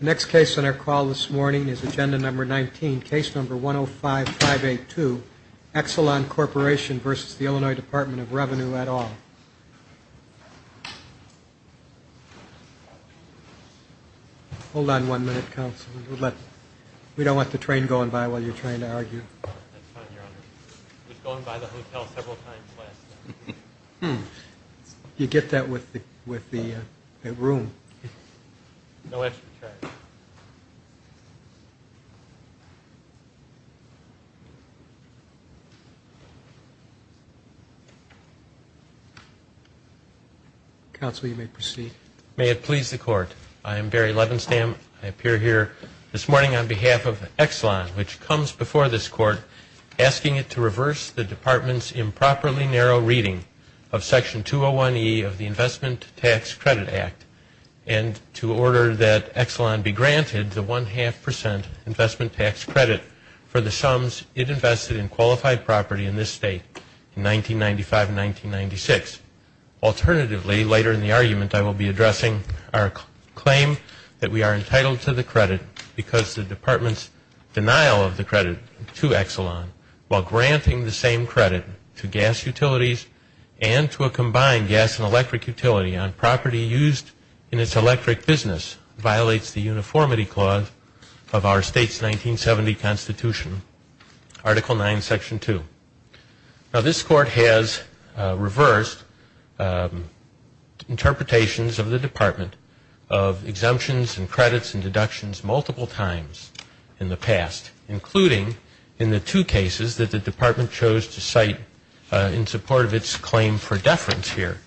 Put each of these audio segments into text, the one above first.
The next case on our call this morning is Agenda No. 19, Case No. 105582, Exelon Corp. v. Illinois Department of Revenue, et al. Hold on one minute, Councilman. We don't want the train going by while you're trying to argue. It was going by the hotel several times last night. You get that with the room. No extra charge. Council, you may proceed. May it please the Court, I am Barry Levenstam. I appear here this morning on behalf of Exelon, which comes before this Court, asking it to reverse the Department's improperly narrow reading of Section 201E of the Investment Tax Credit Act and to order that Exelon be granted the one-half percent investment tax credit for the sums it invested in qualified property in this state in 1995 and 1996. Alternatively, later in the argument, I will be addressing our claim that we are entitled to the credit because the Department's denial of the credit to Exelon while granting the same credit to gas utilities and to a combined gas and electric utility on property used in its electric business violates the uniformity clause of our state's 1970 Constitution, Article 9, Section 2. Now, this Court has reversed interpretations of the Department of exemptions and credits and deductions multiple times in the past, including in the two cases that the Department chose to cite in support of its claim for deference here,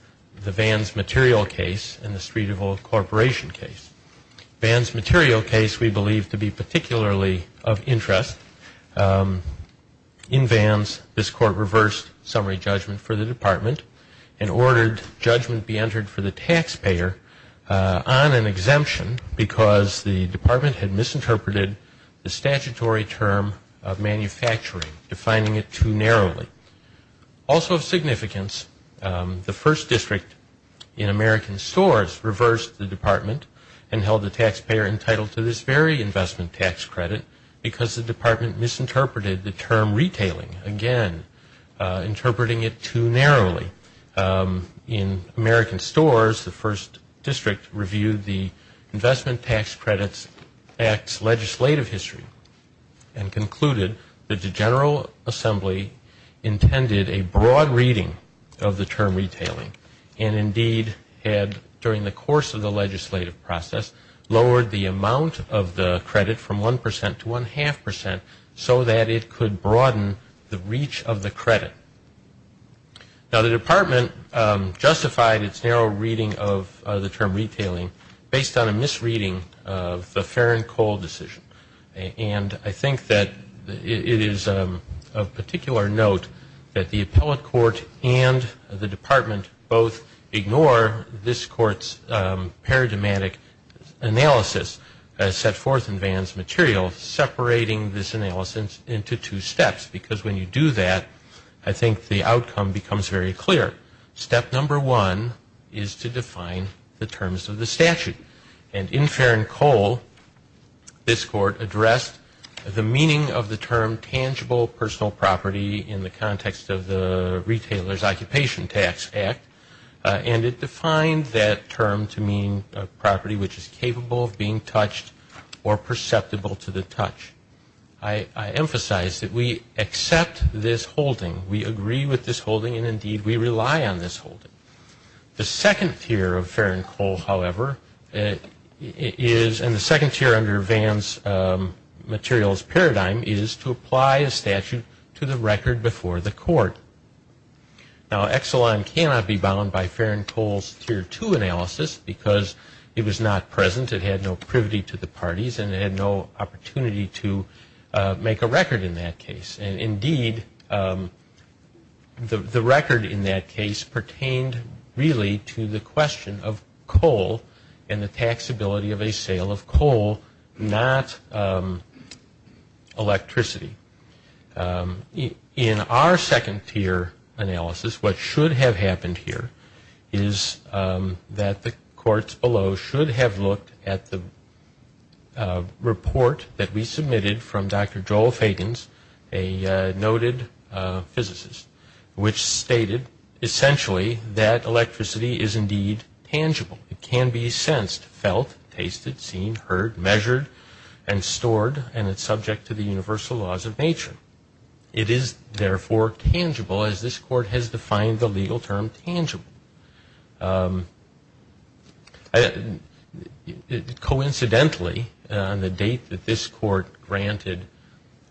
the Vans Material case and the Street Evil Corporation case. Vans Material case we believe to be particularly of interest. In Vans, this Court reversed summary judgment for the Department and ordered judgment be entered for the taxpayer on an exemption because the Department had misinterpreted the statutory term of manufacturing, defining it too narrowly. Also of significance, the 1st District in American Stores reversed the Department and held the taxpayer entitled to this very investment tax credit because the Department misinterpreted the term retailing, again, interpreting it too narrowly. In American Stores, the 1st District reviewed the Investment Tax Credits Act's legislative history and concluded that the General Assembly intended a broad reading of the term retailing and indeed had, during the course of the legislative process, lowered the amount of the credit from 1% to 1.5% so that it could broaden the reach of the credit. Now, the Department justified its narrow reading of the term retailing based on a misreading of the Farron Cole decision. And I think that it is of particular note that the Appellate Court and the Department both ignore this Court's paradigmatic analysis set forth in Vans Material, separating this analysis into two steps because when you do that, I think the outcome becomes very clear. Step number one is to define the terms of the statute. And in Farron Cole, this Court addressed the meaning of the term tangible personal property in the context of the Retailer's Occupation Tax Act, and it defined that term to mean a property which is capable of being touched or perceptible to the touch. I emphasize that we accept this holding. We agree with this holding, and indeed we rely on this holding. The second tier of Farron Cole, however, is, and the second tier under Vans Material's paradigm is to apply a statute to the record before the Court. Now, Exelon cannot be bound by Farron Cole's tier two analysis because it was not present. It had no privity to the parties, and it had no opportunity to make a record in that case. And indeed, the record in that case pertained really to the question of coal and the taxability of a sale of coal, not electricity. In our second tier analysis, what should have happened here is that the courts below should have looked at the report that we submitted from Dr. Joel Fagans, a noted physicist, which stated essentially that electricity is indeed tangible. It can be sensed, felt, tasted, seen, heard, measured, and stored, and it's subject to the universal laws of nature. It is therefore tangible, as this Court has defined the legal term tangible. Coincidentally, on the date that this Court granted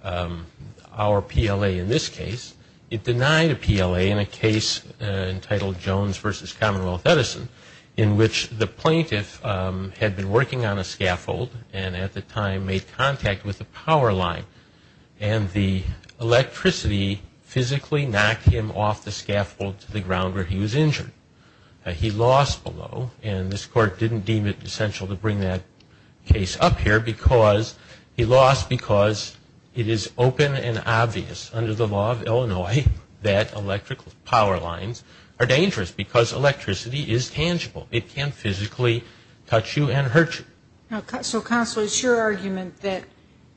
our PLA in this case, it denied a PLA in a case entitled Jones v. Commonwealth Edison, in which the plaintiff had been working on a scaffold and at the time made contact with a power line, and the electricity physically knocked him off the scaffold to the ground where he was injured. He lost below, and this Court didn't deem it essential to bring that case up here because he lost because it is open and obvious under the law of Illinois that electrical power lines are dangerous because electricity is tangible. It can't physically touch you and hurt you. So, Counselor, it's your argument that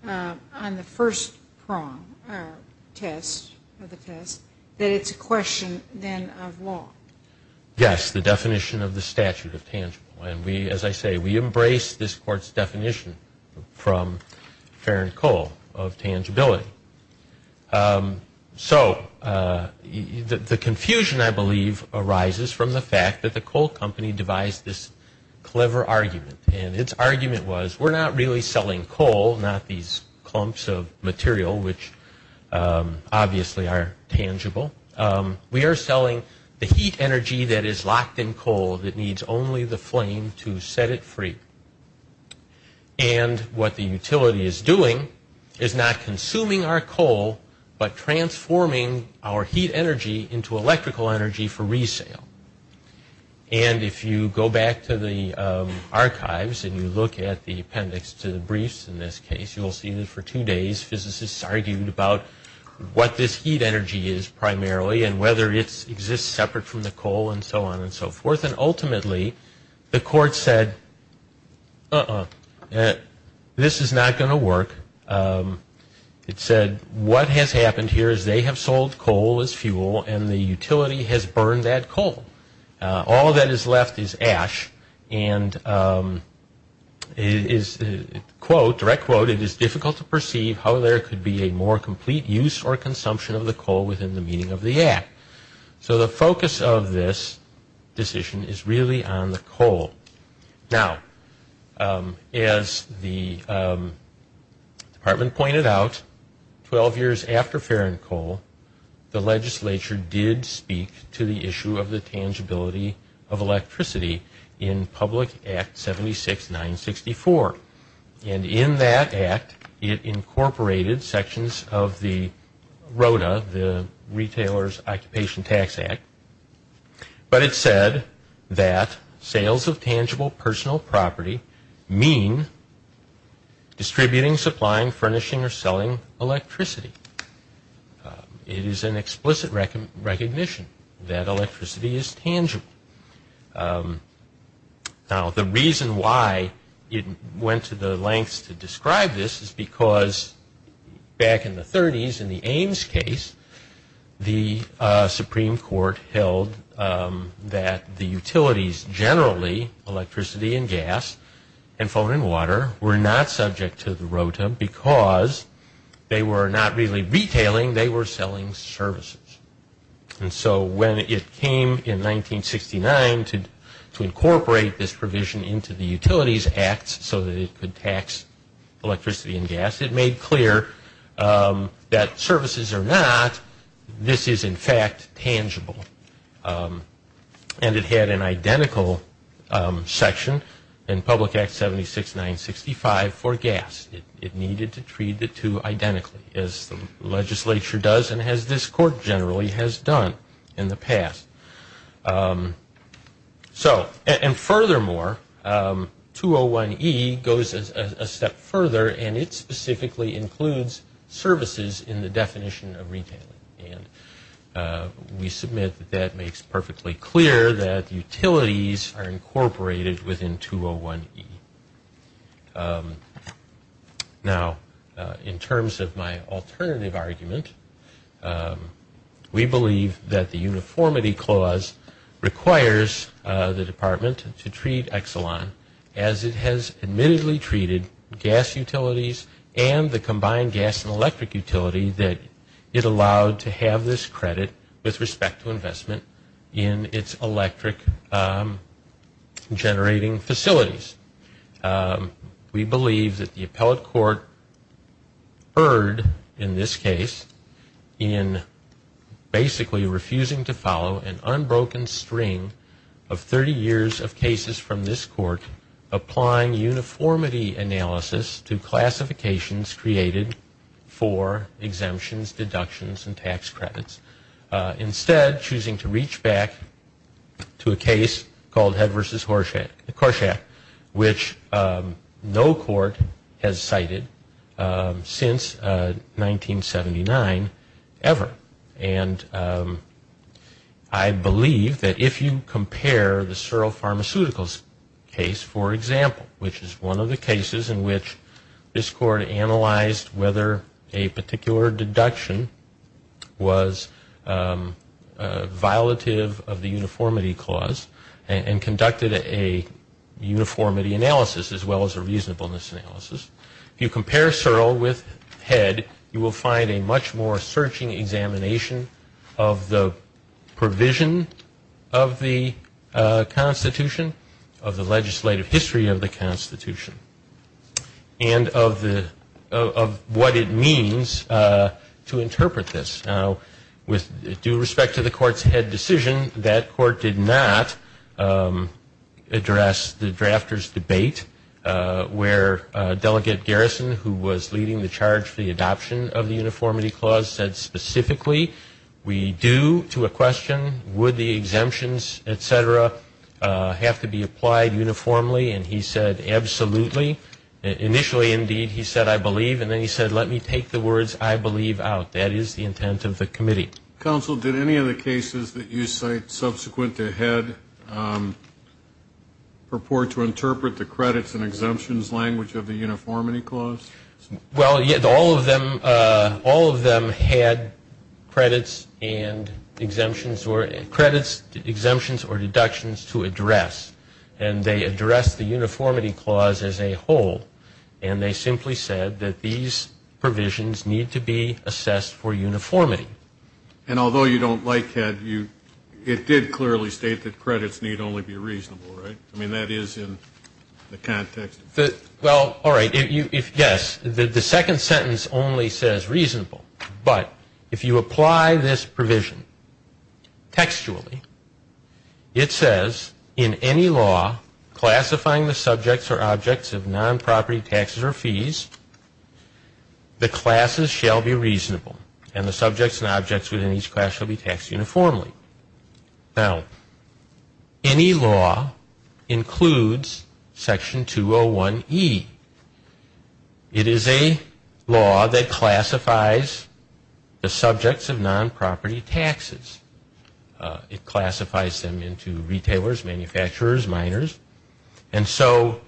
on the first prong of the test that it's a question then of law. Yes, the definition of the statute of tangible, and as I say we embrace this Court's definition from Farron Cole of tangibility. So the confusion, I believe, arises from the fact that the Cole Company devised this clever argument, and its argument was we're not really selling coal, not these clumps of material which obviously are tangible. We are selling the heat energy that is locked in coal that needs only the flame to set it free. And what the utility is doing is not consuming our coal, but transforming our heat energy into electrical energy for resale. And if you go back to the archives and you look at the appendix to the briefs in this case, you will see that for two days physicists argued about what this heat energy is primarily and whether it exists separate from the coal and so on and so forth. And ultimately, the Court said, uh-uh, this is not going to work. It said what has happened here is they have sold coal as fuel and the utility has burned that coal. All that is left is ash and it is, quote, direct quote, it is difficult to perceive how there could be a more complete use or consumption of the coal within the meaning of the act. So the focus of this decision is really on the coal. Now, as the department pointed out, 12 years after Ferrin Coal, the legislature did speak to the issue of the tangibility of electricity in Public Act 76-964. And in that act, it incorporated sections of the ROTA, the Retailer's Occupation Tax Act. But it said that sales of tangible personal property mean distributing, supplying, furnishing, or selling electricity. It is an explicit recognition that electricity is tangible. Now, the reason why it went to the lengths to describe this is because back in the 30s in the Ames case, the Supreme Court held that the utilities generally, electricity and gas, and phone and water, were not subject to the ROTA because they were not really retailing, they were selling services. And so when it came in 1969 to incorporate this provision into the Utilities Act so that it could tax electricity and gas, it made clear that services are not, this is in fact tangible. And it had an identical section in Public Act 76-965 for gas. It needed to treat the two identically, as the legislature does and as this court generally has done in the past. So, and furthermore, 201E goes a step further and it specifically includes services in the definition of retailing. And we submit that that makes perfectly clear that utilities are incorporated within 201E. Now, in terms of my alternative argument, we believe that the uniformity clause requires the department to treat Exelon as it has admittedly treated gas utilities and the combined gas and electric utility that it allowed to have this credit with respect to investment in its electric generating facilities. We believe that the appellate court erred in this case in basically refusing to follow an unbroken string of 30 years of cases from this court applying uniformity analysis to classifications created for exemptions, which no court has cited since 1979 ever. And I believe that if you compare the Searle Pharmaceuticals case, for example, which is one of the cases in which this court analyzed whether a particular deduction was violative of the uniformity clause and conducted a uniformity analysis as well as a reasonableness analysis. If you compare Searle with Head, you will find a much more searching examination of the provision of the Constitution, of the legislative history of the Constitution, and of what it means to interpret this. Now, with due respect to the court's head decision, that court did not address the drafter's debate where Delegate Garrison, who was leading the charge for the adoption of the uniformity clause, said specifically, we do, to a question, would the exemptions, et cetera, have to be applied uniformly? And he said, absolutely. Initially, indeed, he said, I believe. And then he said, let me take the words I believe out. That is the intent of the committee. Counsel, did any of the cases that you cite subsequent to Head purport to interpret the credits and exemptions language of the uniformity clause? Well, all of them had credits, exemptions, or deductions to address. And they addressed the uniformity clause as a whole. And they simply said that these provisions need to be assessed for uniformity. And although you don't like Head, it did clearly state that credits need only be reasonable, right? I mean, that is in the context. Well, all right. Yes. The second sentence only says reasonable. But if you apply this provision textually, it says, in any law classifying the subjects or objects of non-property taxes or fees, the classes shall be reasonable. And the subjects and objects within each class shall be taxed uniformly. Now, any law includes Section 201E. It is a law that classifies the subjects of non-property taxes. It classifies them into retailers, manufacturers, miners. And so,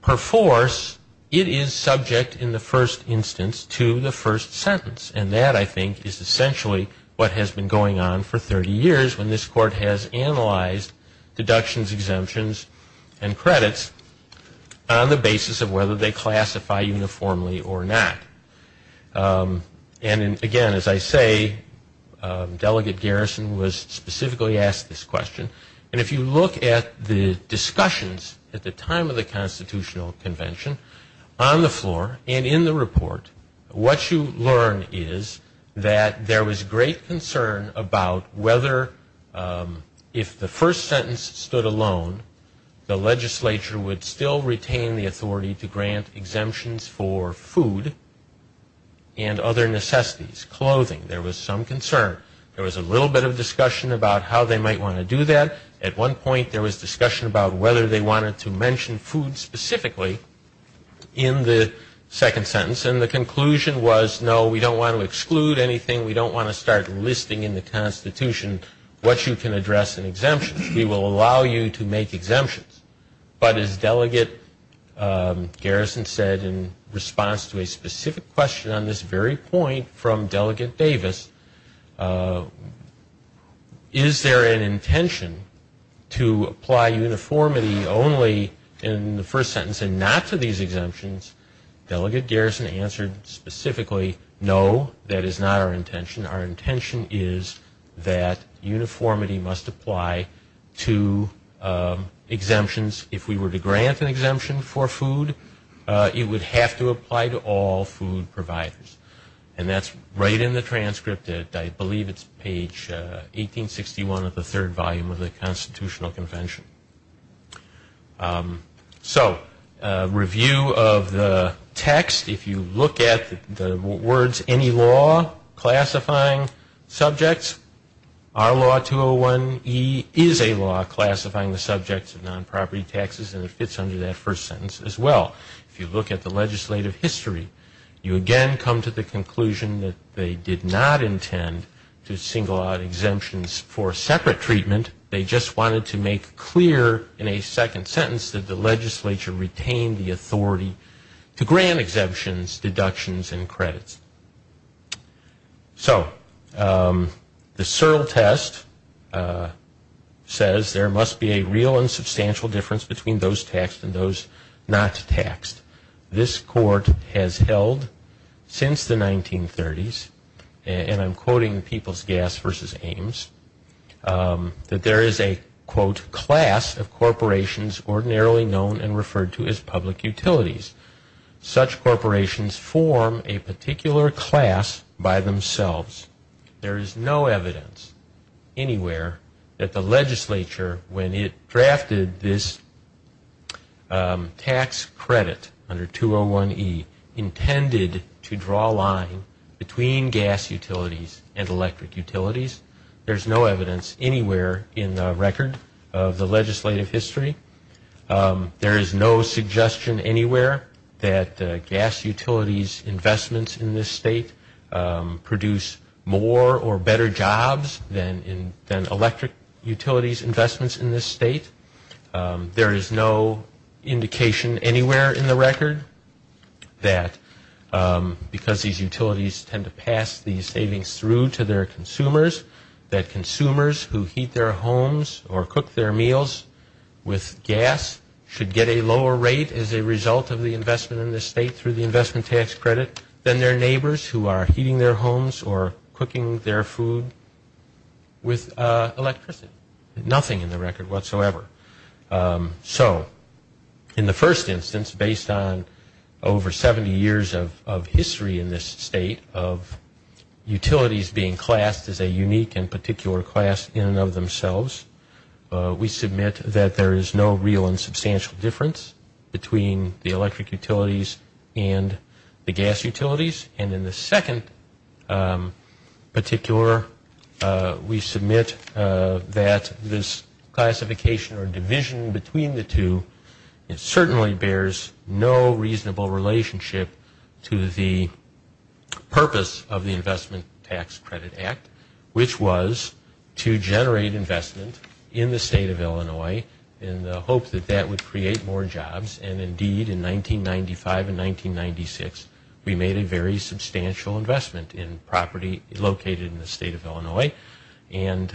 per force, it is subject in the first instance to the first sentence. And that, I think, is essentially what has been going on for 30 years when this Court has analyzed deductions, exemptions, and credits on the basis of whether they classify uniformly or not. And, again, as I say, Delegate Garrison was specifically asked this question. And if you look at the discussions at the time of the Constitutional Convention on the floor and in the report, what you learn is that there was great concern about whether, if the first sentence stood alone, the legislature would still retain the authority to grant exemptions for food and other necessities, clothing. There was some concern. There was a little bit of discussion about how they might want to do that. At one point, there was discussion about whether they wanted to mention food specifically in the second sentence. And the conclusion was, no, we don't want to exclude anything. We don't want to start listing in the Constitution what you can address in exemptions. We will allow you to make exemptions. But as Delegate Garrison said in response to a specific question on this very point from Delegate Davis, is there an intention to apply uniformity only in the first sentence and not to these exemptions? Delegate Garrison answered specifically, no, that is not our intention. Our intention is that uniformity must apply to exemptions. If we were to grant an exemption for food, it would have to apply to all food providers. And that's right in the transcript. I believe it's page 1861 of the third volume of the Constitutional Convention. So review of the text, if you look at the words, any law classifying subjects, our law 201E is a law classifying the subjects of non-property taxes, and it fits under that first sentence as well. If you look at the legislative history, you again come to the conclusion that they did not intend to single out exemptions for separate treatment. They just wanted to make clear in a second sentence that the legislature retained the authority to grant exemptions, deductions, and credits. So the Searle test says there must be a real and substantial difference between those taxed and those not taxed. This court has held since the 1930s, and I'm quoting People's Gas v. Ames, that there is a, quote, class of corporations ordinarily known and referred to as public utilities. Such corporations form a particular class by themselves. There is no evidence anywhere that the legislature, when it drafted this tax credit under 201E, intended to draw a line between gas utilities and electric utilities. There's no evidence anywhere in the record of the legislative history. There is no suggestion anywhere that gas utilities investments in this state produce more or better jobs than electric utilities investments in this state. There is no indication anywhere in the record that because these utilities tend to pass these savings through to their consumers, that consumers who heat their homes or cook their meals with gas should get a lower rate as a result of the investment in this state through the investment tax credit than their neighbors who are heating their homes or cooking their food with electricity. Nothing in the record whatsoever. So in the first instance, based on over 70 years of history in this state of utilities being classed as a unique and particular class in and of themselves, we submit that there is no real and substantial difference between the electric utilities and the gas utilities. And in the second particular, we submit that this classification or division between the two, it certainly bears no reasonable relationship to the purpose of the Investment Tax Credit Act, which was to generate investment in the state of Illinois in the hope that that would create more jobs. And indeed, in 1995 and 1996, we made a very substantial investment in property located in the state of Illinois. And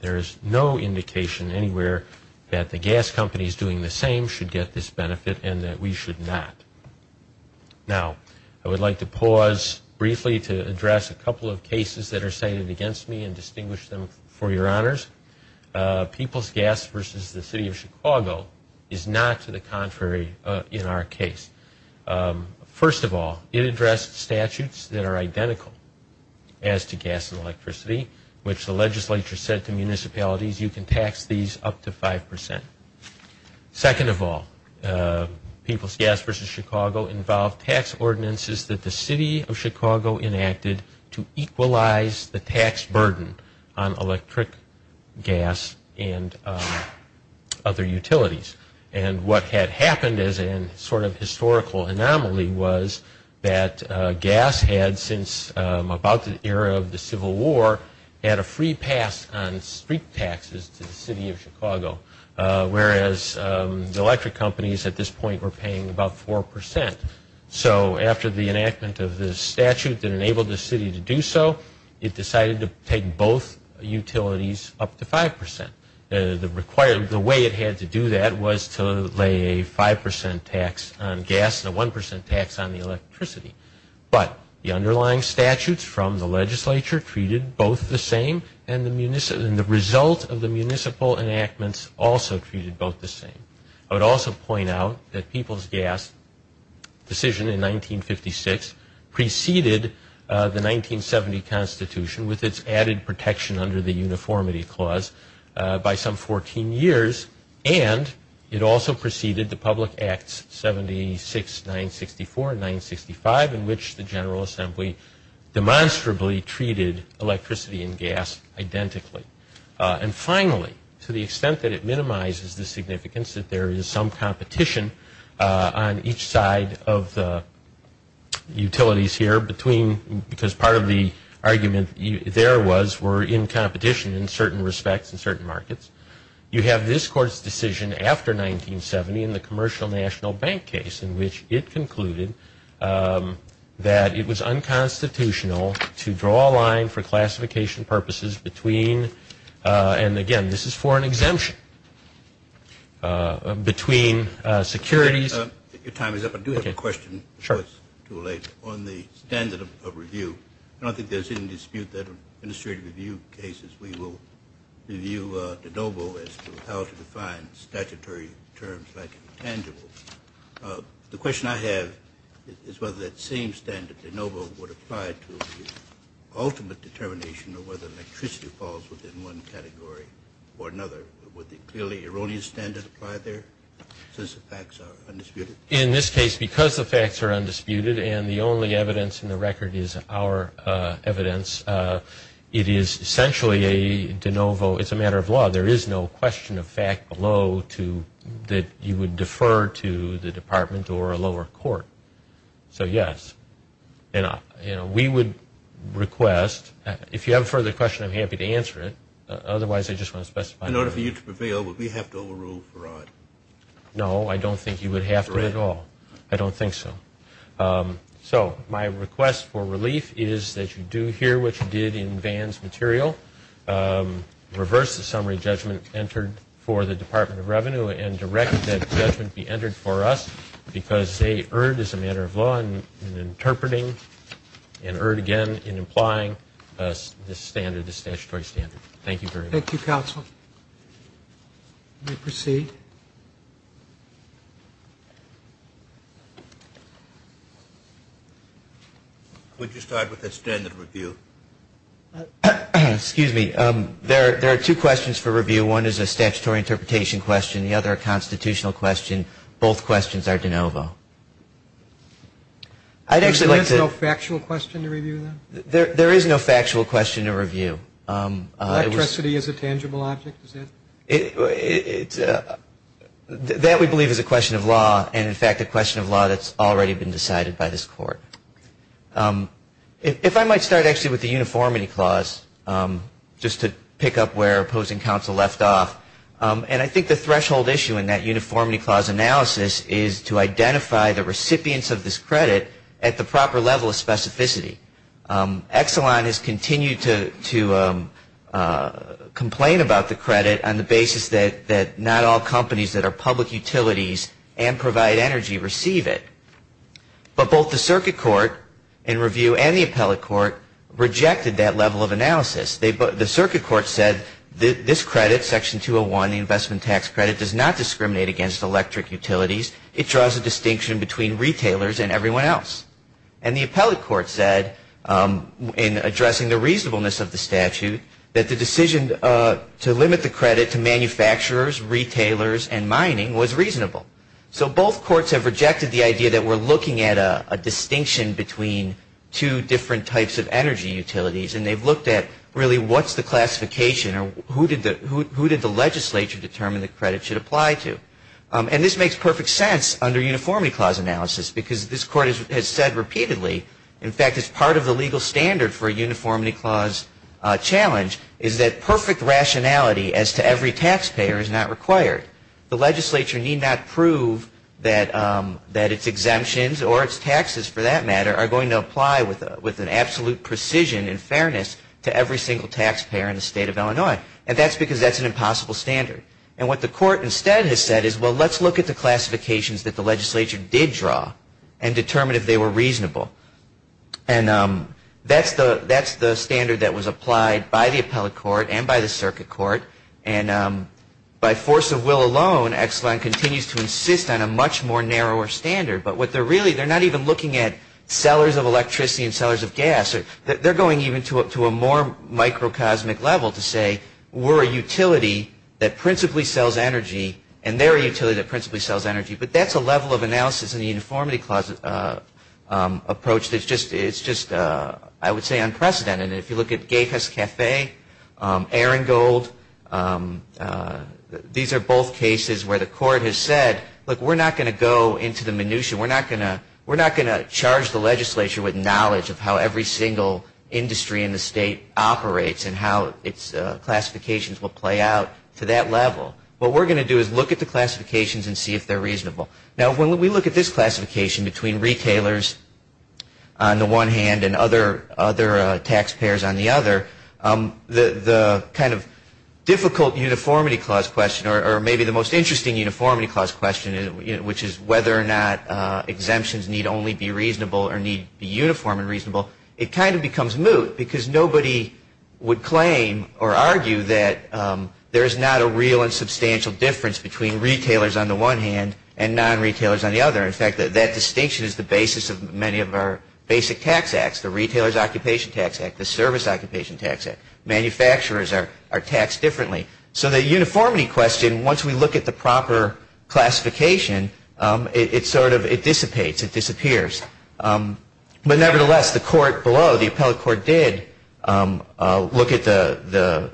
there is no indication anywhere that the gas companies doing the same should get this benefit and that we should not. Now, I would like to pause briefly to address a couple of cases that are cited against me and distinguish them for your honors. People's Gas versus the City of Chicago is not to the contrary in our case. First of all, it addressed statutes that are identical as to gas and electricity, which the legislature said to municipalities, you can tax these up to 5%. Second of all, People's Gas versus Chicago involved tax ordinances that the City of Chicago enacted to equalize the tax burden on electric gas and other utilities. And what had happened as a sort of historical anomaly was that gas had, since about the era of the Civil War, had a free pass on street taxes to the City of Chicago, whereas the electric companies at this point were paying about 4%. So after the enactment of the statute that enabled the city to do so, it decided to take both utilities up to 5%. The way it had to do that was to lay a 5% tax on gas and a 1% tax on the electricity. But the underlying statutes from the legislature treated both the same, and the result of the municipal enactments also treated both the same. I would also point out that People's Gas' decision in 1956 preceded the 1970 Constitution with its added protection under the Uniformity Clause by some 14 years, and it also preceded the Public Acts 76, 964, and 965, in which the General Assembly demonstrably treated electricity and gas identically. And finally, to the extent that it minimizes the significance that there is some competition on each side of the utilities here, because part of the argument there was we're in competition in certain respects in certain markets, you have this Court's decision after 1970 in the Commercial National Bank case, in which it concluded that it was unconstitutional to draw a line for classification purposes between, and again, this is for an exemption, between securities. Your time is up. I do have a question. Sure. On the standard of review. I don't think there's any dispute that in administrative review cases we will review de novo as to how to define statutory terms like tangible. The question I have is whether that same standard, de novo, would apply to the ultimate determination of whether electricity falls within one category or another. Would the clearly erroneous standard apply there since the facts are undisputed? In this case, because the facts are undisputed and the only evidence in the record is our evidence, it is essentially a de novo. It's a matter of law. There is no question of fact below that you would defer to the Department or a lower court. So, yes. And we would request, if you have a further question, I'm happy to answer it. Otherwise, I just want to specify. In order for you to prevail, would we have to overrule fraud? No, I don't think you would have to at all. I don't think so. So my request for relief is that you do hear what you did in Vann's material, reverse the summary judgment entered for the Department of Revenue, and direct that judgment be entered for us because they erred as a matter of law in interpreting and erred again in implying this standard, this statutory standard. Thank you very much. Thank you, counsel. You may proceed. Would you start with the standard review? Excuse me. There are two questions for review. One is a statutory interpretation question. The other a constitutional question. Both questions are de novo. There is no factual question to review, then? There is no factual question to review. Electricity is a tangible object, is it? That, we believe, is a question of law, and, in fact, a question of law that's already been decided by this Court. If I might start, actually, with the uniformity clause, just to pick up where opposing counsel left off. And I think the threshold issue in that uniformity clause analysis is to identify the recipients of this credit at the proper level of specificity. Exelon has continued to complain about the credit on the basis that not all companies that are public utilities and provide energy receive it. But both the Circuit Court in review and the Appellate Court rejected that level of analysis. The Circuit Court said this credit, Section 201, the investment tax credit, does not discriminate against electric utilities. It draws a distinction between retailers and everyone else. And the Appellate Court said, in addressing the reasonableness of the statute, that the decision to limit the credit to manufacturers, retailers, and mining was reasonable. So both courts have rejected the idea that we're looking at a distinction between two different types of energy utilities, and they've looked at really what's the classification or who did the legislature determine the credit should apply to. And this makes perfect sense under uniformity clause analysis because this Court has said repeatedly, in fact, it's part of the legal standard for a uniformity clause challenge, is that perfect rationality as to every taxpayer is not required. The legislature need not prove that its exemptions or its taxes, for that matter, are going to apply with an absolute precision in fairness to every single taxpayer in the state of Illinois. And that's because that's an impossible standard. And what the Court instead has said is, well, let's look at the classifications that the legislature did draw and determine if they were reasonable. And that's the standard that was applied by the Appellate Court and by the Circuit Court. And by force of will alone, Exelon continues to insist on a much more narrower standard. But what they're really, they're not even looking at sellers of electricity and sellers of gas. They're going even to a more microcosmic level to say, we're a utility that principally sells energy, and they're a utility that principally sells energy. But that's a level of analysis in the uniformity clause approach that's just, I would say, unprecedented. And if you look at Gafis Cafe, Arangold, these are both cases where the Court has said, look, we're not going to go into the minutia. We're not going to charge the legislature with knowledge of how every single industry in the state operates and how its classifications will play out to that level. What we're going to do is look at the classifications and see if they're reasonable. Now, when we look at this classification between retailers on the one hand and other taxpayers on the other, the kind of difficult uniformity clause question, or maybe the most interesting uniformity clause question, which is whether or not exemptions need only be reasonable or need to be uniform and reasonable, it kind of becomes moot because nobody would claim or argue that there is not a real and substantial difference between retailers on the one hand and non-retailers on the other. In fact, that distinction is the basis of many of our basic tax acts, the Retailers' Occupation Tax Act, the Service Occupation Tax Act. Manufacturers are taxed differently. So the uniformity question, once we look at the proper classification, it sort of dissipates. It disappears. But nevertheless, the Court below, the Appellate Court, did look at the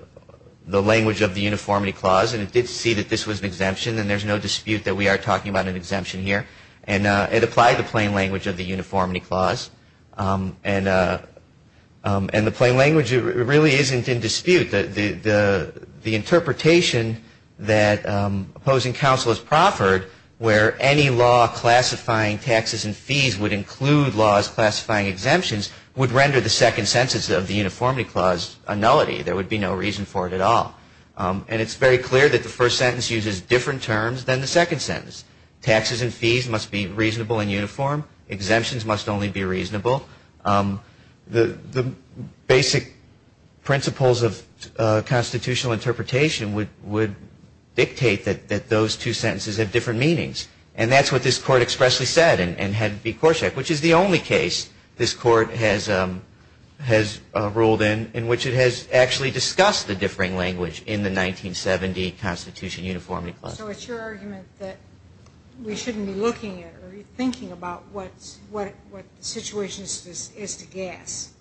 language of the uniformity clause and it did see that this was an exemption and there's no dispute that we are talking about an exemption here. And it applied the plain language of the uniformity clause. And the plain language really isn't in dispute. The interpretation that opposing counsel has proffered where any law classifying taxes and fees would include laws classifying exemptions would render the second sentence of the uniformity clause a nullity. There would be no reason for it at all. And it's very clear that the first sentence uses different terms than the second sentence. Taxes and fees must be reasonable and uniform. Exemptions must only be reasonable. The basic principles of constitutional interpretation would dictate that those two sentences have different meanings. And that's what this Court expressly said and had it be Corsak, which is the only case this Court has ruled in, in which it has actually discussed the differing language in the 1970 Constitution Uniformity Clause. So it's your argument that we shouldn't be looking at or thinking about what the situation is to guess.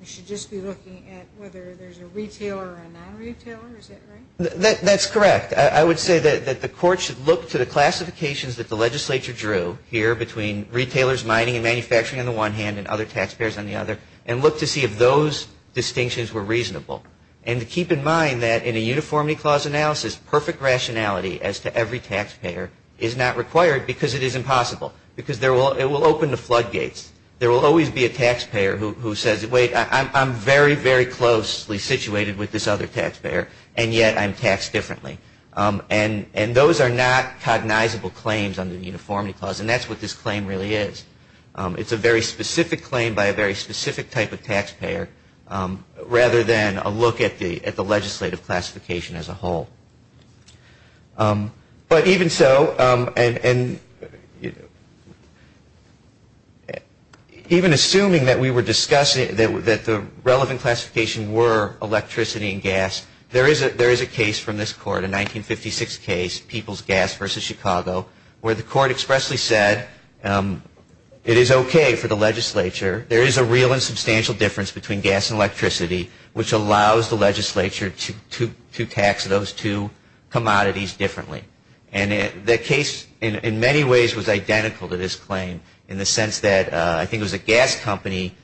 We should just be looking at whether there's a retailer or a non-retailer. Is that right? That's correct. I would say that the Court should look to the classifications that the legislature drew here between retailers, mining, and manufacturing on the one hand and other taxpayers on the other and look to see if those distinctions were reasonable. And to keep in mind that in a Uniformity Clause analysis, perfect rationality as to every taxpayer is not required because it is impossible. Because it will open the floodgates. There will always be a taxpayer who says, wait, I'm very, very closely situated with this other taxpayer, and yet I'm taxed differently. And those are not cognizable claims under the Uniformity Clause, and that's what this claim really is. It's a very specific claim by a very specific type of taxpayer, rather than a look at the legislative classification as a whole. But even so, and even assuming that we were discussing that the relevant classification were electricity and gas, there is a case from this Court, a 1956 case, People's Gas v. Chicago, where the Court expressly said it is okay for the legislature, there is a real and substantial difference between gas and electricity, which allows the legislature to tax those two commodities differently. And that case in many ways was identical to this claim in the sense that I think it was a gas company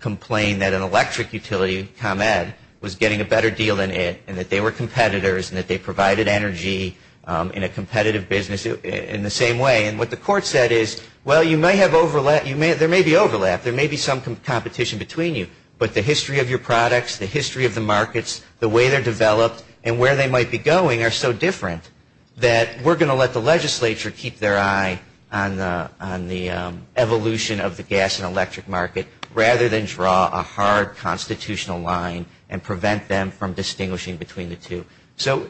complained that an electric utility, ComEd, was getting a better deal than it, and that they were competitors and that they provided energy in a competitive business. In the same way, and what the Court said is, well, you may have overlap, there may be overlap, there may be some competition between you, but the history of your products, the history of the markets, the way they're developed, and where they might be going are so different that we're going to let the legislature keep their eye on the evolution of the gas and electric market, rather than draw a hard constitutional line and prevent them from distinguishing between the two. So,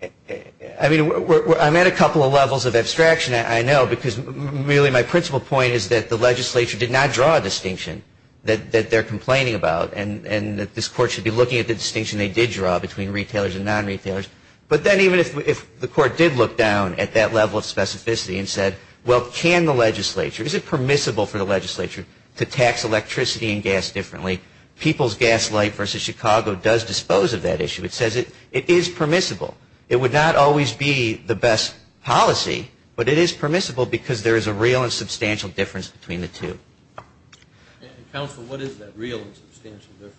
I mean, I'm at a couple of levels of abstraction, I know, because really my principal point is that the legislature did not draw a distinction that they're complaining about, and that this Court should be looking at the distinction they did draw between retailers and non-retailers. But then even if the Court did look down at that level of specificity and said, well, can the legislature, is it permissible for the legislature to tax electricity and gas differently? People's Gas Light v. Chicago does dispose of that issue. It says it is permissible. It would not always be the best policy, but it is permissible because there is a real and substantial difference between the two. Counsel, what is that real and substantial difference?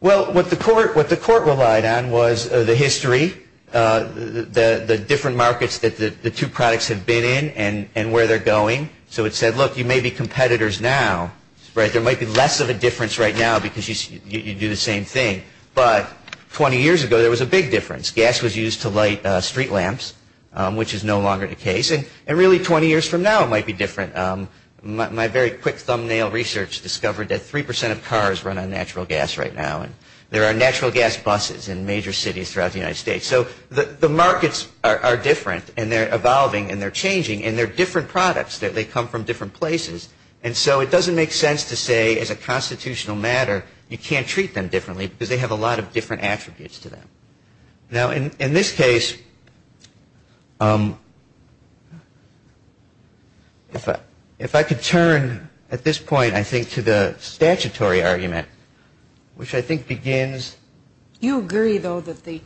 Well, what the Court relied on was the history, the different markets that the two products have been in and where they're going. So it said, look, you may be competitors now, right? There might be less of a difference right now because you do the same thing, but 20 years ago there was a big difference. Gas was used to light street lamps, which is no longer the case, and really 20 years from now it might be different. My very quick thumbnail research discovered that 3% of cars run on natural gas right now, and there are natural gas buses in major cities throughout the United States. So the markets are different, and they're evolving, and they're changing, and they're different products, that they come from different places. And so it doesn't make sense to say, as a constitutional matter, you can't treat them differently because they have a lot of different attributes to them. Now, in this case, if I could turn at this point, I think, to the statutory argument, which I think begins. Do you agree, though, that the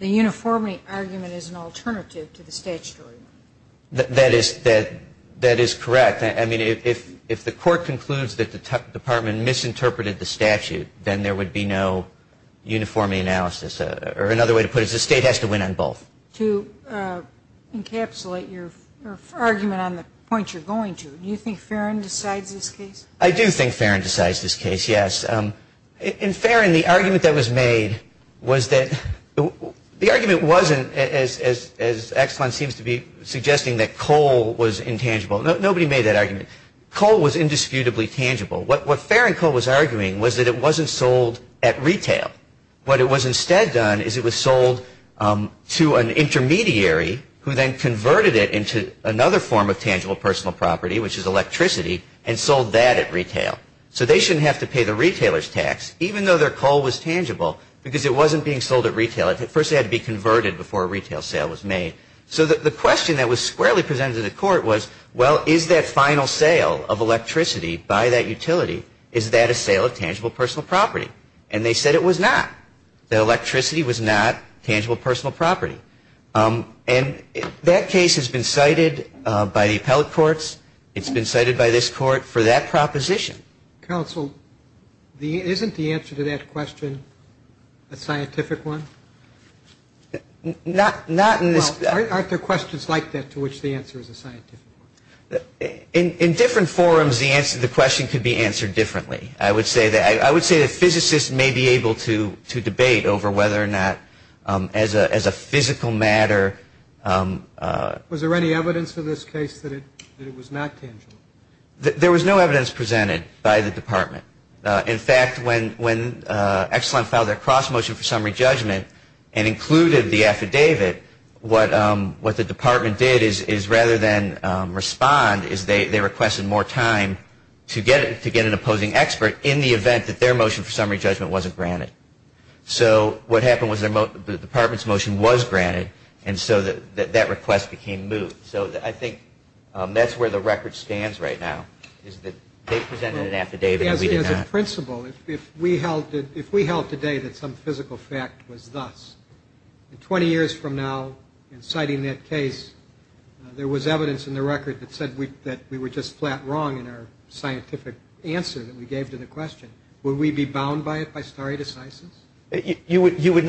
uniformity argument is an alternative to the statutory one? That is correct. I mean, if the court concludes that the Department misinterpreted the statute, then there would be no uniformity analysis. Or another way to put it is the state has to win on both. To encapsulate your argument on the point you're going to, do you think Farron decides this case? I do think Farron decides this case, yes. In Farron, the argument that was made was that the argument wasn't, as Excellen seems to be suggesting, that coal was intangible. Nobody made that argument. Coal was indisputably tangible. What Farron Coal was arguing was that it wasn't sold at retail. What it was instead done is it was sold to an intermediary, who then converted it into another form of tangible personal property, which is electricity, and sold that at retail. So they shouldn't have to pay the retailer's tax, even though their coal was tangible, because it wasn't being sold at retail. At first, it had to be converted before a retail sale was made. So the question that was squarely presented to the court was, well, is that final sale of electricity by that utility, is that a sale of tangible personal property? And they said it was not. That electricity was not tangible personal property. And that case has been cited by the appellate courts. It's been cited by this court for that proposition. Counsel, isn't the answer to that question a scientific one? Well, aren't there questions like that to which the answer is a scientific one? In different forums, the question could be answered differently. I would say that physicists may be able to debate over whether or not, as a physical matter. Was there any evidence in this case that it was not tangible? There was no evidence presented by the department. In fact, when Excellent filed their cross-motion for summary judgment and included the affidavit, what the department did is rather than respond is they requested more time to get an opposing expert in the event that their motion for summary judgment wasn't granted. So what happened was the department's motion was granted, and so that request became moved. So I think that's where the record stands right now, is that they presented an affidavit and we did not. As a principle, if we held today that some physical fact was thus, 20 years from now, in citing that case, there was evidence in the record that said that we were just flat wrong in our scientific answer that we gave to the question. Would we be bound by it by stare decisis? You would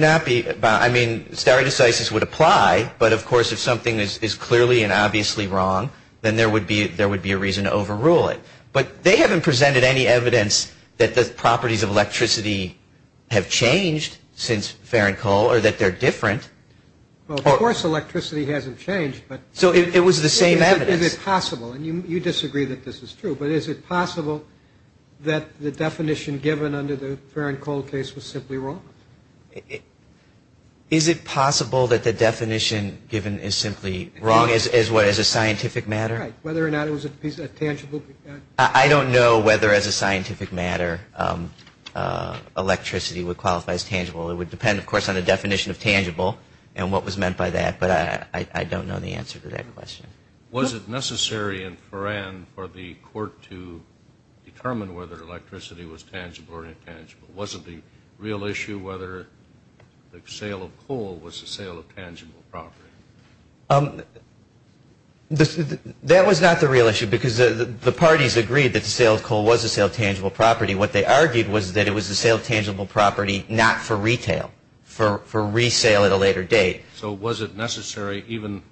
not be. I mean, stare decisis would apply, but, of course, if something is clearly and obviously wrong, then there would be a reason to overrule it. But they haven't presented any evidence that the properties of electricity have changed since ferricol or that they're different. Of course, electricity hasn't changed. So it was the same evidence. Is it possible, and you disagree that this is true, but is it possible that the definition given under the ferricol case was simply wrong? Is it possible that the definition given is simply wrong as what, as a scientific matter? Right, whether or not it was a piece of tangible. I don't know whether, as a scientific matter, electricity would qualify as tangible. It would depend, of course, on the definition of tangible and what was meant by that, but I don't know the answer to that question. Was it necessary in Foran for the court to determine whether electricity was tangible or intangible? Was it the real issue whether the sale of coal was the sale of tangible property? That was not the real issue because the parties agreed that the sale of coal was the sale of tangible property. What they argued was that it was the sale of tangible property not for retail, for resale at a later date. So was it necessary, even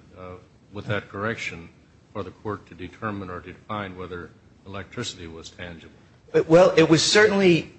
with that correction, for the court to determine or to define whether electricity was tangible? Well, it was certainly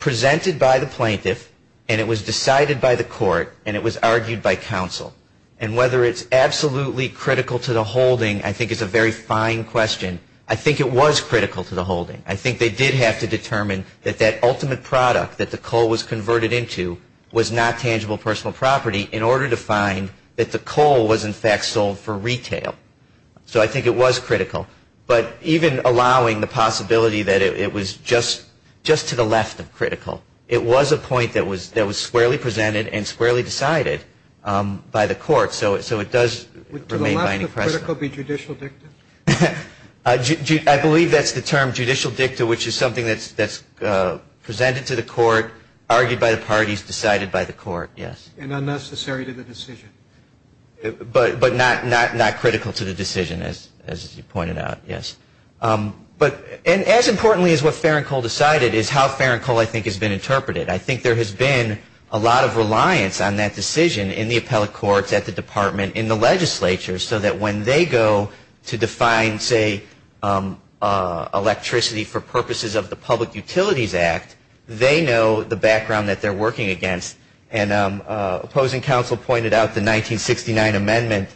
presented by the plaintiff, and it was decided by the court, and it was argued by counsel. And whether it's absolutely critical to the holding, I think, is a very fine question. I think it was critical to the holding. I think they did have to determine that that ultimate product that the coal was converted into was not tangible personal property in order to find that the coal was, in fact, sold for retail. So I think it was critical. But even allowing the possibility that it was just to the left of critical, it was a point that was squarely presented and squarely decided by the court. So it does remain binding precedent. Would to the left of critical be judicial dicta? I believe that's the term, judicial dicta, which is something that's presented to the court, argued by the parties, decided by the court, yes. And unnecessary to the decision. But not critical to the decision, as you pointed out, yes. And as importantly as what Farron Cole decided is how Farron Cole, I think, has been interpreted. I think there has been a lot of reliance on that decision in the appellate courts, at the department, in the legislature, so that when they go to define, say, electricity for purposes of the Public Utilities Act, they know the background that they're working against. And opposing counsel pointed out the 1969 amendment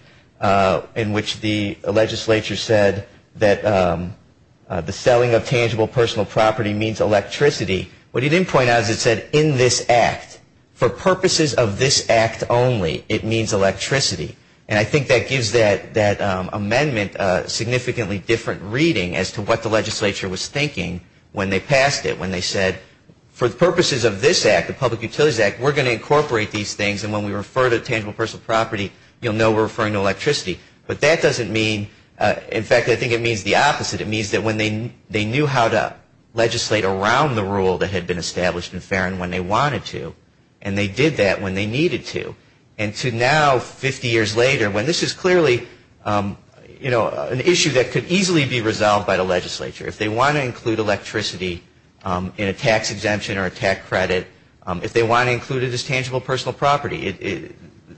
in which the legislature said that the selling of tangible personal property means electricity. What he didn't point out is it said, in this act, for purposes of this act only, it means electricity. And I think that gives that amendment a significantly different reading as to what the legislature was thinking when they passed it, when they said, for the purposes of this act, the Public Utilities Act, we're going to incorporate these things, and when we refer to tangible personal property, you'll know we're referring to electricity. But that doesn't mean, in fact, I think it means the opposite. It means that when they knew how to legislate around the rule that had been established in Farron when they wanted to, and they did that when they needed to. And to now, 50 years later, when this is clearly, you know, an issue that could easily be resolved by the legislature. If they want to include electricity in a tax exemption or a tax credit, if they want to include it as tangible personal property,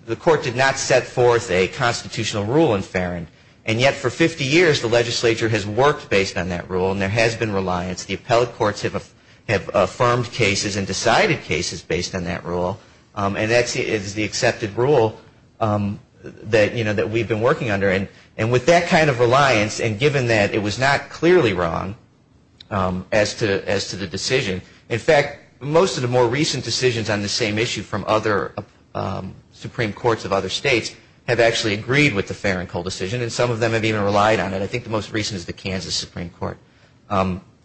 the court did not set forth a constitutional rule in Farron. And yet, for 50 years, the legislature has worked based on that rule, and there has been reliance. The appellate courts have affirmed cases and decided cases based on that rule. And that is the accepted rule that, you know, that we've been working under. And with that kind of reliance, and given that it was not clearly wrong as to the decision, in fact, most of the more recent decisions on the same issue from other Supreme Courts of other states have actually agreed with the Farron-Cole decision, and some of them have even relied on it. I think the most recent is the Kansas Supreme Court,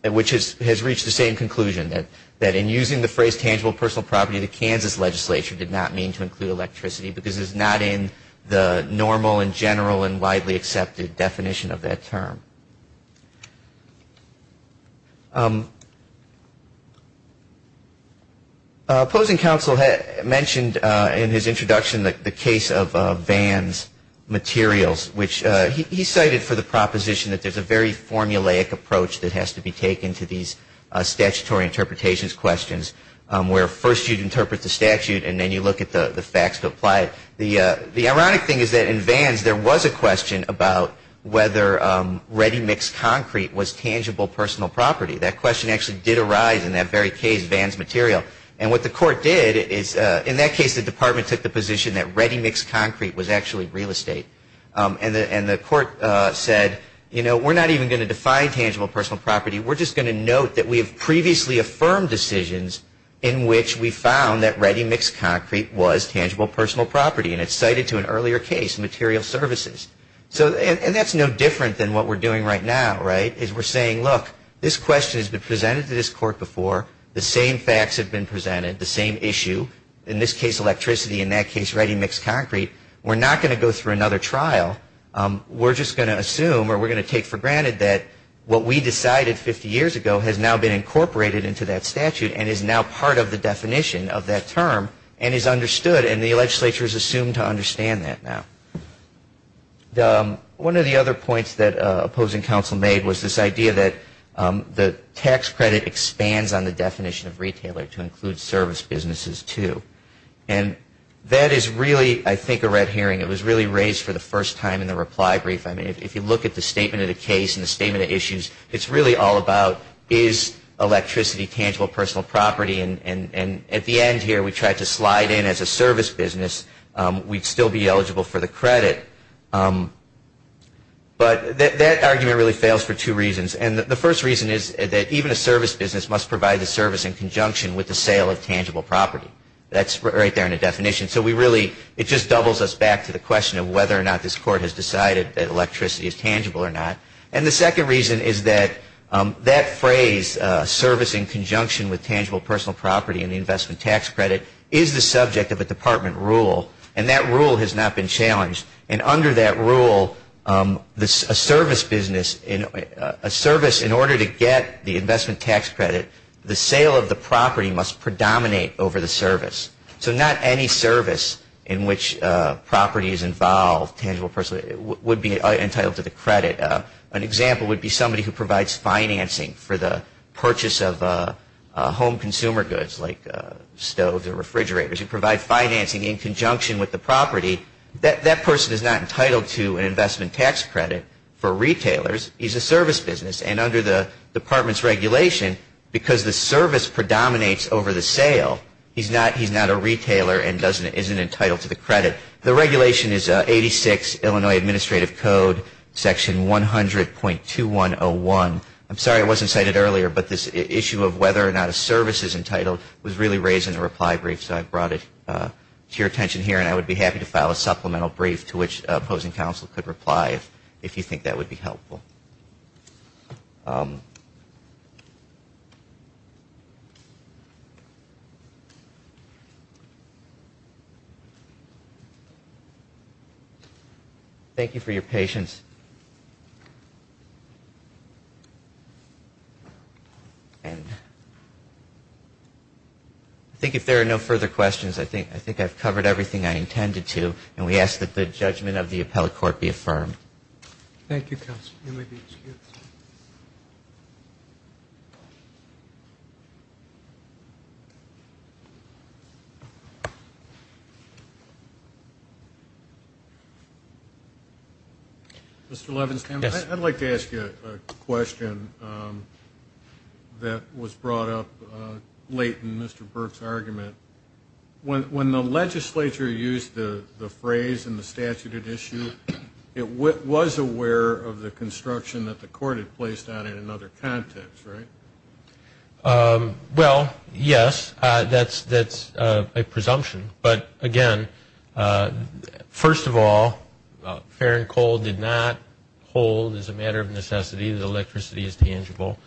which has reached the same conclusion, that in using the phrase tangible personal property, the Kansas legislature did not mean to include electricity because it's not in the normal and general and widely accepted definition of that term. Opposing counsel mentioned in his introduction the case of Vann's materials, which he cited for the proposition that there's a very formulaic approach that has to be taken to these statutory interpretations questions, where first you interpret the statute and then you look at the facts to apply it. The ironic thing is that in Vann's there was a question about whether ready-mix concrete was tangible personal property. That question actually did arise in that very case, Vann's material. And what the court did is, in that case, the department took the position that ready-mix concrete was actually real estate. And the court said, you know, we're not even going to define tangible personal property. We're just going to note that we have previously affirmed decisions in which we found that ready-mix concrete was tangible personal property. And it's cited to an earlier case, material services. And that's no different than what we're doing right now, right, is we're saying, look, this question has been presented to this court before. The same facts have been presented, the same issue. In this case, electricity. In that case, ready-mix concrete. We're not going to go through another trial. We're just going to assume, or we're going to take for granted, that what we decided 50 years ago has now been incorporated into that statute and is now part of the definition of that term and is understood. And the legislature is assumed to understand that now. One of the other points that opposing counsel made was this idea that the tax credit expands on the definition of retailer to include service businesses, too. And that is really, I think, a red herring. It was really raised for the first time in the reply brief. I mean, if you look at the statement of the case and the statement of issues, it's really all about is electricity tangible personal property. And at the end here, we tried to slide in as a service business. We'd still be eligible for the credit. But that argument really fails for two reasons. And the first reason is that even a service business must provide the service in conjunction with the sale of tangible property. That's right there in the definition. So we really, it just doubles us back to the question of whether or not this court has decided that electricity is tangible or not. And the second reason is that that phrase, service in conjunction with tangible personal property and the investment tax credit, is the subject of a department rule. And that rule has not been challenged. And under that rule, a service business, a service in order to get the investment tax credit, So not any service in which property is involved, tangible personal, would be entitled to the credit. An example would be somebody who provides financing for the purchase of home consumer goods like stoves or refrigerators. You provide financing in conjunction with the property. That person is not entitled to an investment tax credit for retailers. He's a service business. And under the department's regulation, because the service predominates over the sale, he's not a retailer and isn't entitled to the credit. The regulation is 86 Illinois Administrative Code, section 100.2101. I'm sorry I wasn't cited earlier, but this issue of whether or not a service is entitled was really raised in the reply brief. So I brought it to your attention here. And I would be happy to file a supplemental brief to which opposing counsel could reply if you think that would be helpful. Thank you for your patience. And I think if there are no further questions, I think I've covered everything I intended to. And we ask that the judgment of the appellate court be affirmed. Thank you, counsel. Mr. Levenstam, I'd like to ask you a question that was brought up late in Mr. Burke's argument. When the legislature used the phrase in the statute at issue, it was aware of the construction that the court had placed on it in another context, right? Well, yes. That's a presumption. But, again, first of all, fair and cold did not hold as a matter of necessity that electricity is tangible.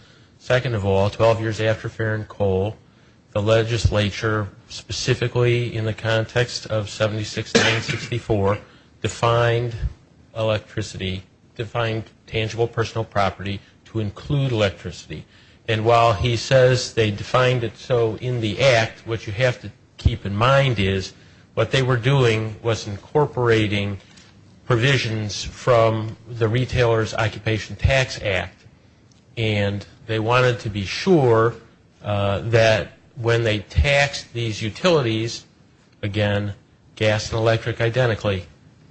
Second of all, 12 years after fair and cold, the legislature, specifically in the context of 76-964, defined electricity, defined tangible personal property to include electricity. And while he says they defined it so in the act, what you have to keep in mind is what they were doing was incorporating provisions from the Retailer's Occupation Tax Act. And they wanted to be sure that when they taxed these utilities, again, gas and electric identically,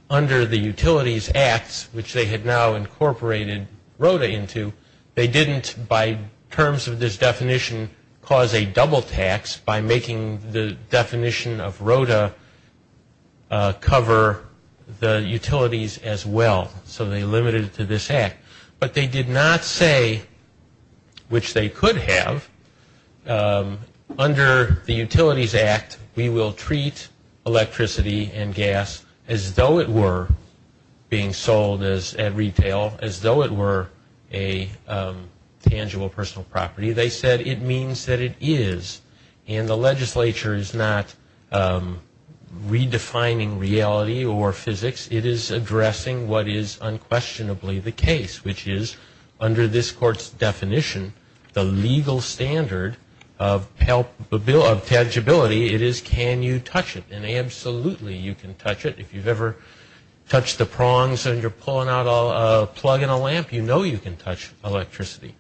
under the Utilities Act, which they had now incorporated ROTA into, they didn't, by terms of this definition, cause a double tax by making the definition of ROTA cover the utilities as well, so they limited it to this act. But they did not say, which they could have, under the Utilities Act, we will treat electricity and gas as though it were being sold at retail, as though it were a tangible personal property. They said it means that it is. And the legislature is not redefining reality or physics. It is addressing what is unquestionably the case, which is, under this court's definition, the legal standard of tangibility, it is can you touch it. And absolutely you can touch it. If you've ever touched the prongs and you're pulling out a plug in a lamp, you know you can touch electricity.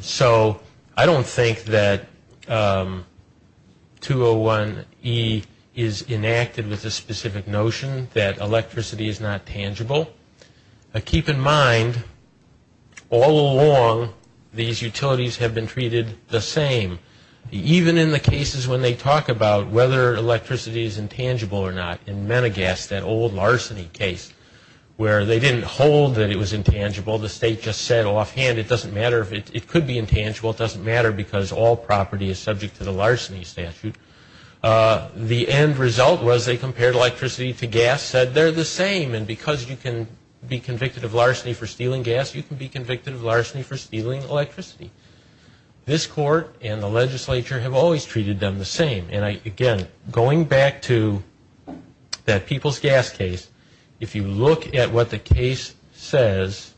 So I don't think that 201E is enacted with the specific notion that electricity is not tangible. Keep in mind, all along, these utilities have been treated the same. Even in the cases when they talk about whether electricity is intangible or not, in Menegas, that old larceny case, where they didn't hold that it was intangible, the state just said offhand, it doesn't matter, it could be intangible, it doesn't matter because all property is subject to the larceny statute. The end result was they compared electricity to gas, said they're the same, and because you can be convicted of larceny for stealing gas, you can be convicted of larceny for stealing electricity. This court and the legislature have always treated them the same. And again, going back to that people's gas case, if you look at what the case says,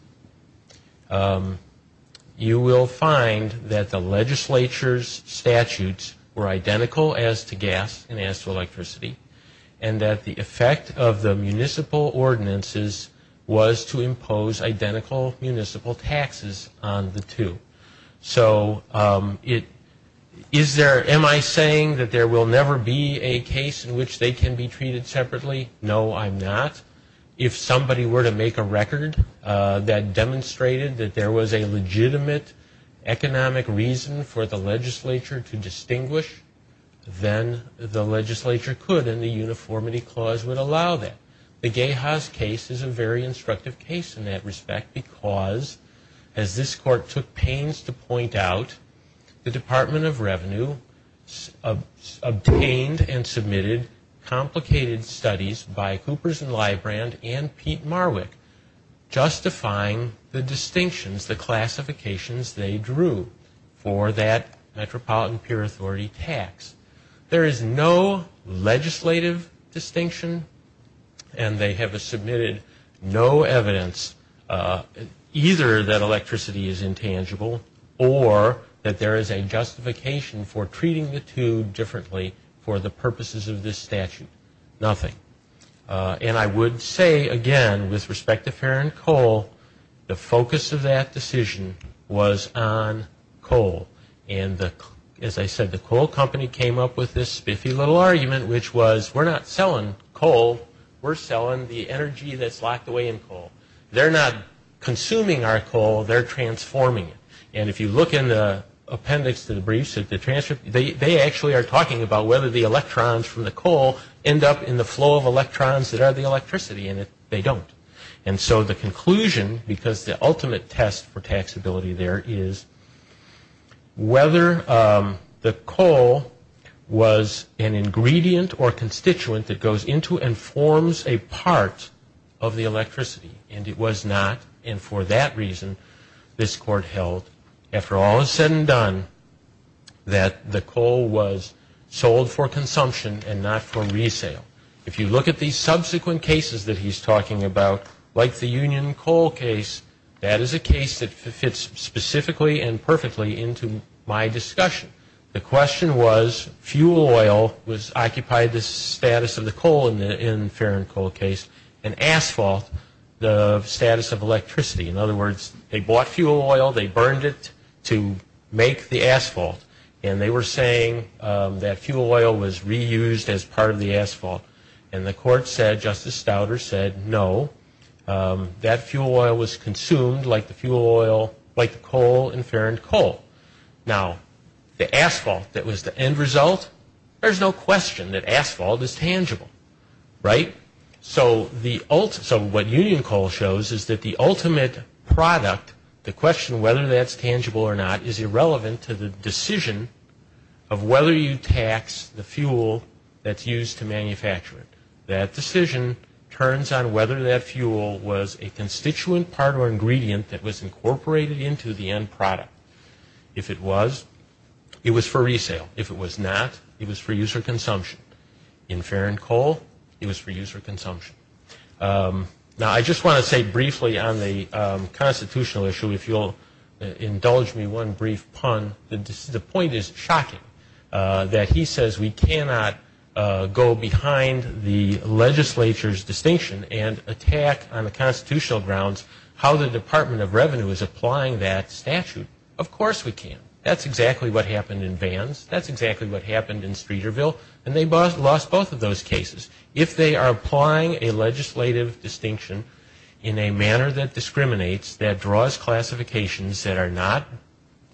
you will find that the legislature's statutes were identical as to gas and as to electricity, and that the effect of the municipal ordinances was to impose identical municipal taxes on the two. So is there, am I saying that there will never be a case in which they can be treated separately? No, I'm not. If somebody were to make a record that demonstrated that there was a legitimate economic reason for the legislature to distinguish, then the legislature could and the uniformity clause would allow that. The Geha's case is a very instructive case in that respect because, as this court took pains to point out, the Department of Revenue obtained and submitted complicated studies by Coopers and Librand and Pete Marwick justifying the distinctions, the classifications they drew for that Metropolitan Peer Authority tax. There is no legislative distinction and they have submitted no evidence either that electricity is intangible or that there is a justification for treating the two differently for the purposes of this statute. Nothing. And I would say, again, with respect to Ferron Coal, the focus of that decision was on coal. And, as I said, the coal company came up with this spiffy little argument, which was, we're not selling coal, we're selling the energy that's locked away in coal. They're not consuming our coal, they're transforming it. And if you look in the appendix to the briefs, they actually are talking about whether the electrons from the coal end up in the flow of electrons that are the electricity in it. They don't. And so the conclusion, because the ultimate test for taxability there is whether the coal was an ingredient or constituent that goes into and forms a part of the electricity. And it was not. And for that reason, this court held, after all is said and done, that the coal was sold for consumption and not for resale. If you look at these subsequent cases that he's talking about, like the Union Coal case, that is a case that fits specifically and perfectly into my discussion. The question was, fuel oil occupied the status of the coal in the Ferron Coal case, and asphalt the status of electricity. In other words, they bought fuel oil, they burned it to make the asphalt, and they were saying that fuel oil was reused as part of the asphalt. And the court said, Justice Stouder said, no, that fuel oil was consumed like the coal in Ferron Coal. Now, the asphalt that was the end result, there's no question that asphalt is tangible, right? So what Union Coal shows is that the ultimate product, the question whether that's tangible or not, is irrelevant to the decision of whether you tax the fuel that's used to manufacture it. That decision turns on whether that fuel was a constituent part or ingredient that was incorporated into the end product. If it was, it was for resale. If it was not, it was for use or consumption. In Ferron Coal, it was for use or consumption. Now, I just want to say briefly on the constitutional issue, if you'll indulge me one brief pun, the point is shocking that he says we cannot go behind the legislature's distinction and attack on the constitutional grounds how the Department of Revenue is applying that statute. Of course we can. That's exactly what happened in Vans. That's exactly what happened in Streeterville. And they lost both of those cases. If they are applying a legislative distinction in a manner that discriminates, that draws classifications that are not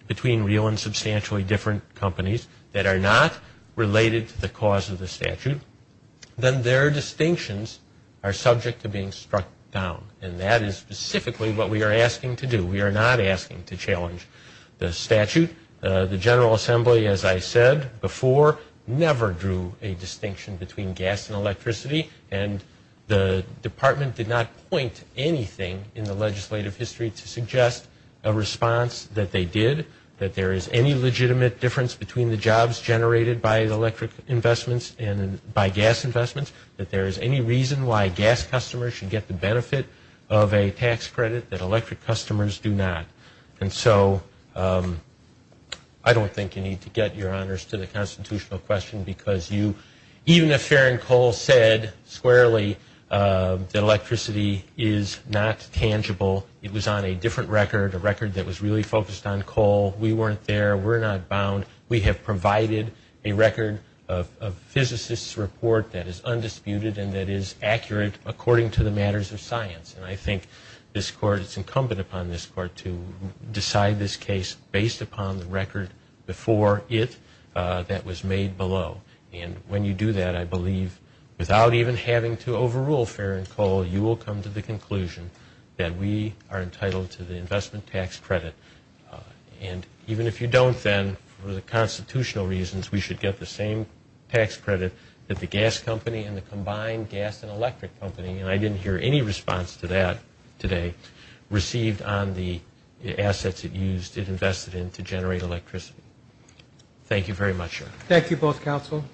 between real and substantially different companies, that are not related to the cause of the statute, then their distinctions are subject to being struck down. And that is specifically what we are asking to do. We are not asking to challenge the statute. The General Assembly, as I said before, never drew a distinction between gas and electricity. And the department did not point anything in the legislative history to suggest a response that they did, that there is any legitimate difference between the jobs generated by electric investments and by gas investments, that there is any reason why gas customers should get the benefit of a tax credit that electric customers do not. And so I don't think you need to get your honors to the constitutional question, because even if Farron Cole said squarely that electricity is not tangible, it was on a different record, a record that was really focused on coal, we weren't there, we're not bound. We have provided a record of physicists' report that is undisputed and that is accurate according to the matters of science. And I think this Court, it's incumbent upon this Court to decide this case based upon the record before it that was made below. And when you do that, I believe, without even having to overrule Farron Cole, you will come to the conclusion that we are entitled to the investment tax credit. And even if you don't then, for the constitutional reasons, we should get the same tax credit that the gas company and the combined gas and electric company. And I didn't hear any response to that today received on the assets it used, it invested in to generate electricity. Thank you very much, Your Honor. Thank you both, counsel.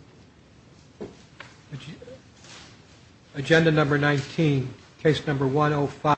Agenda number 19, case number 105.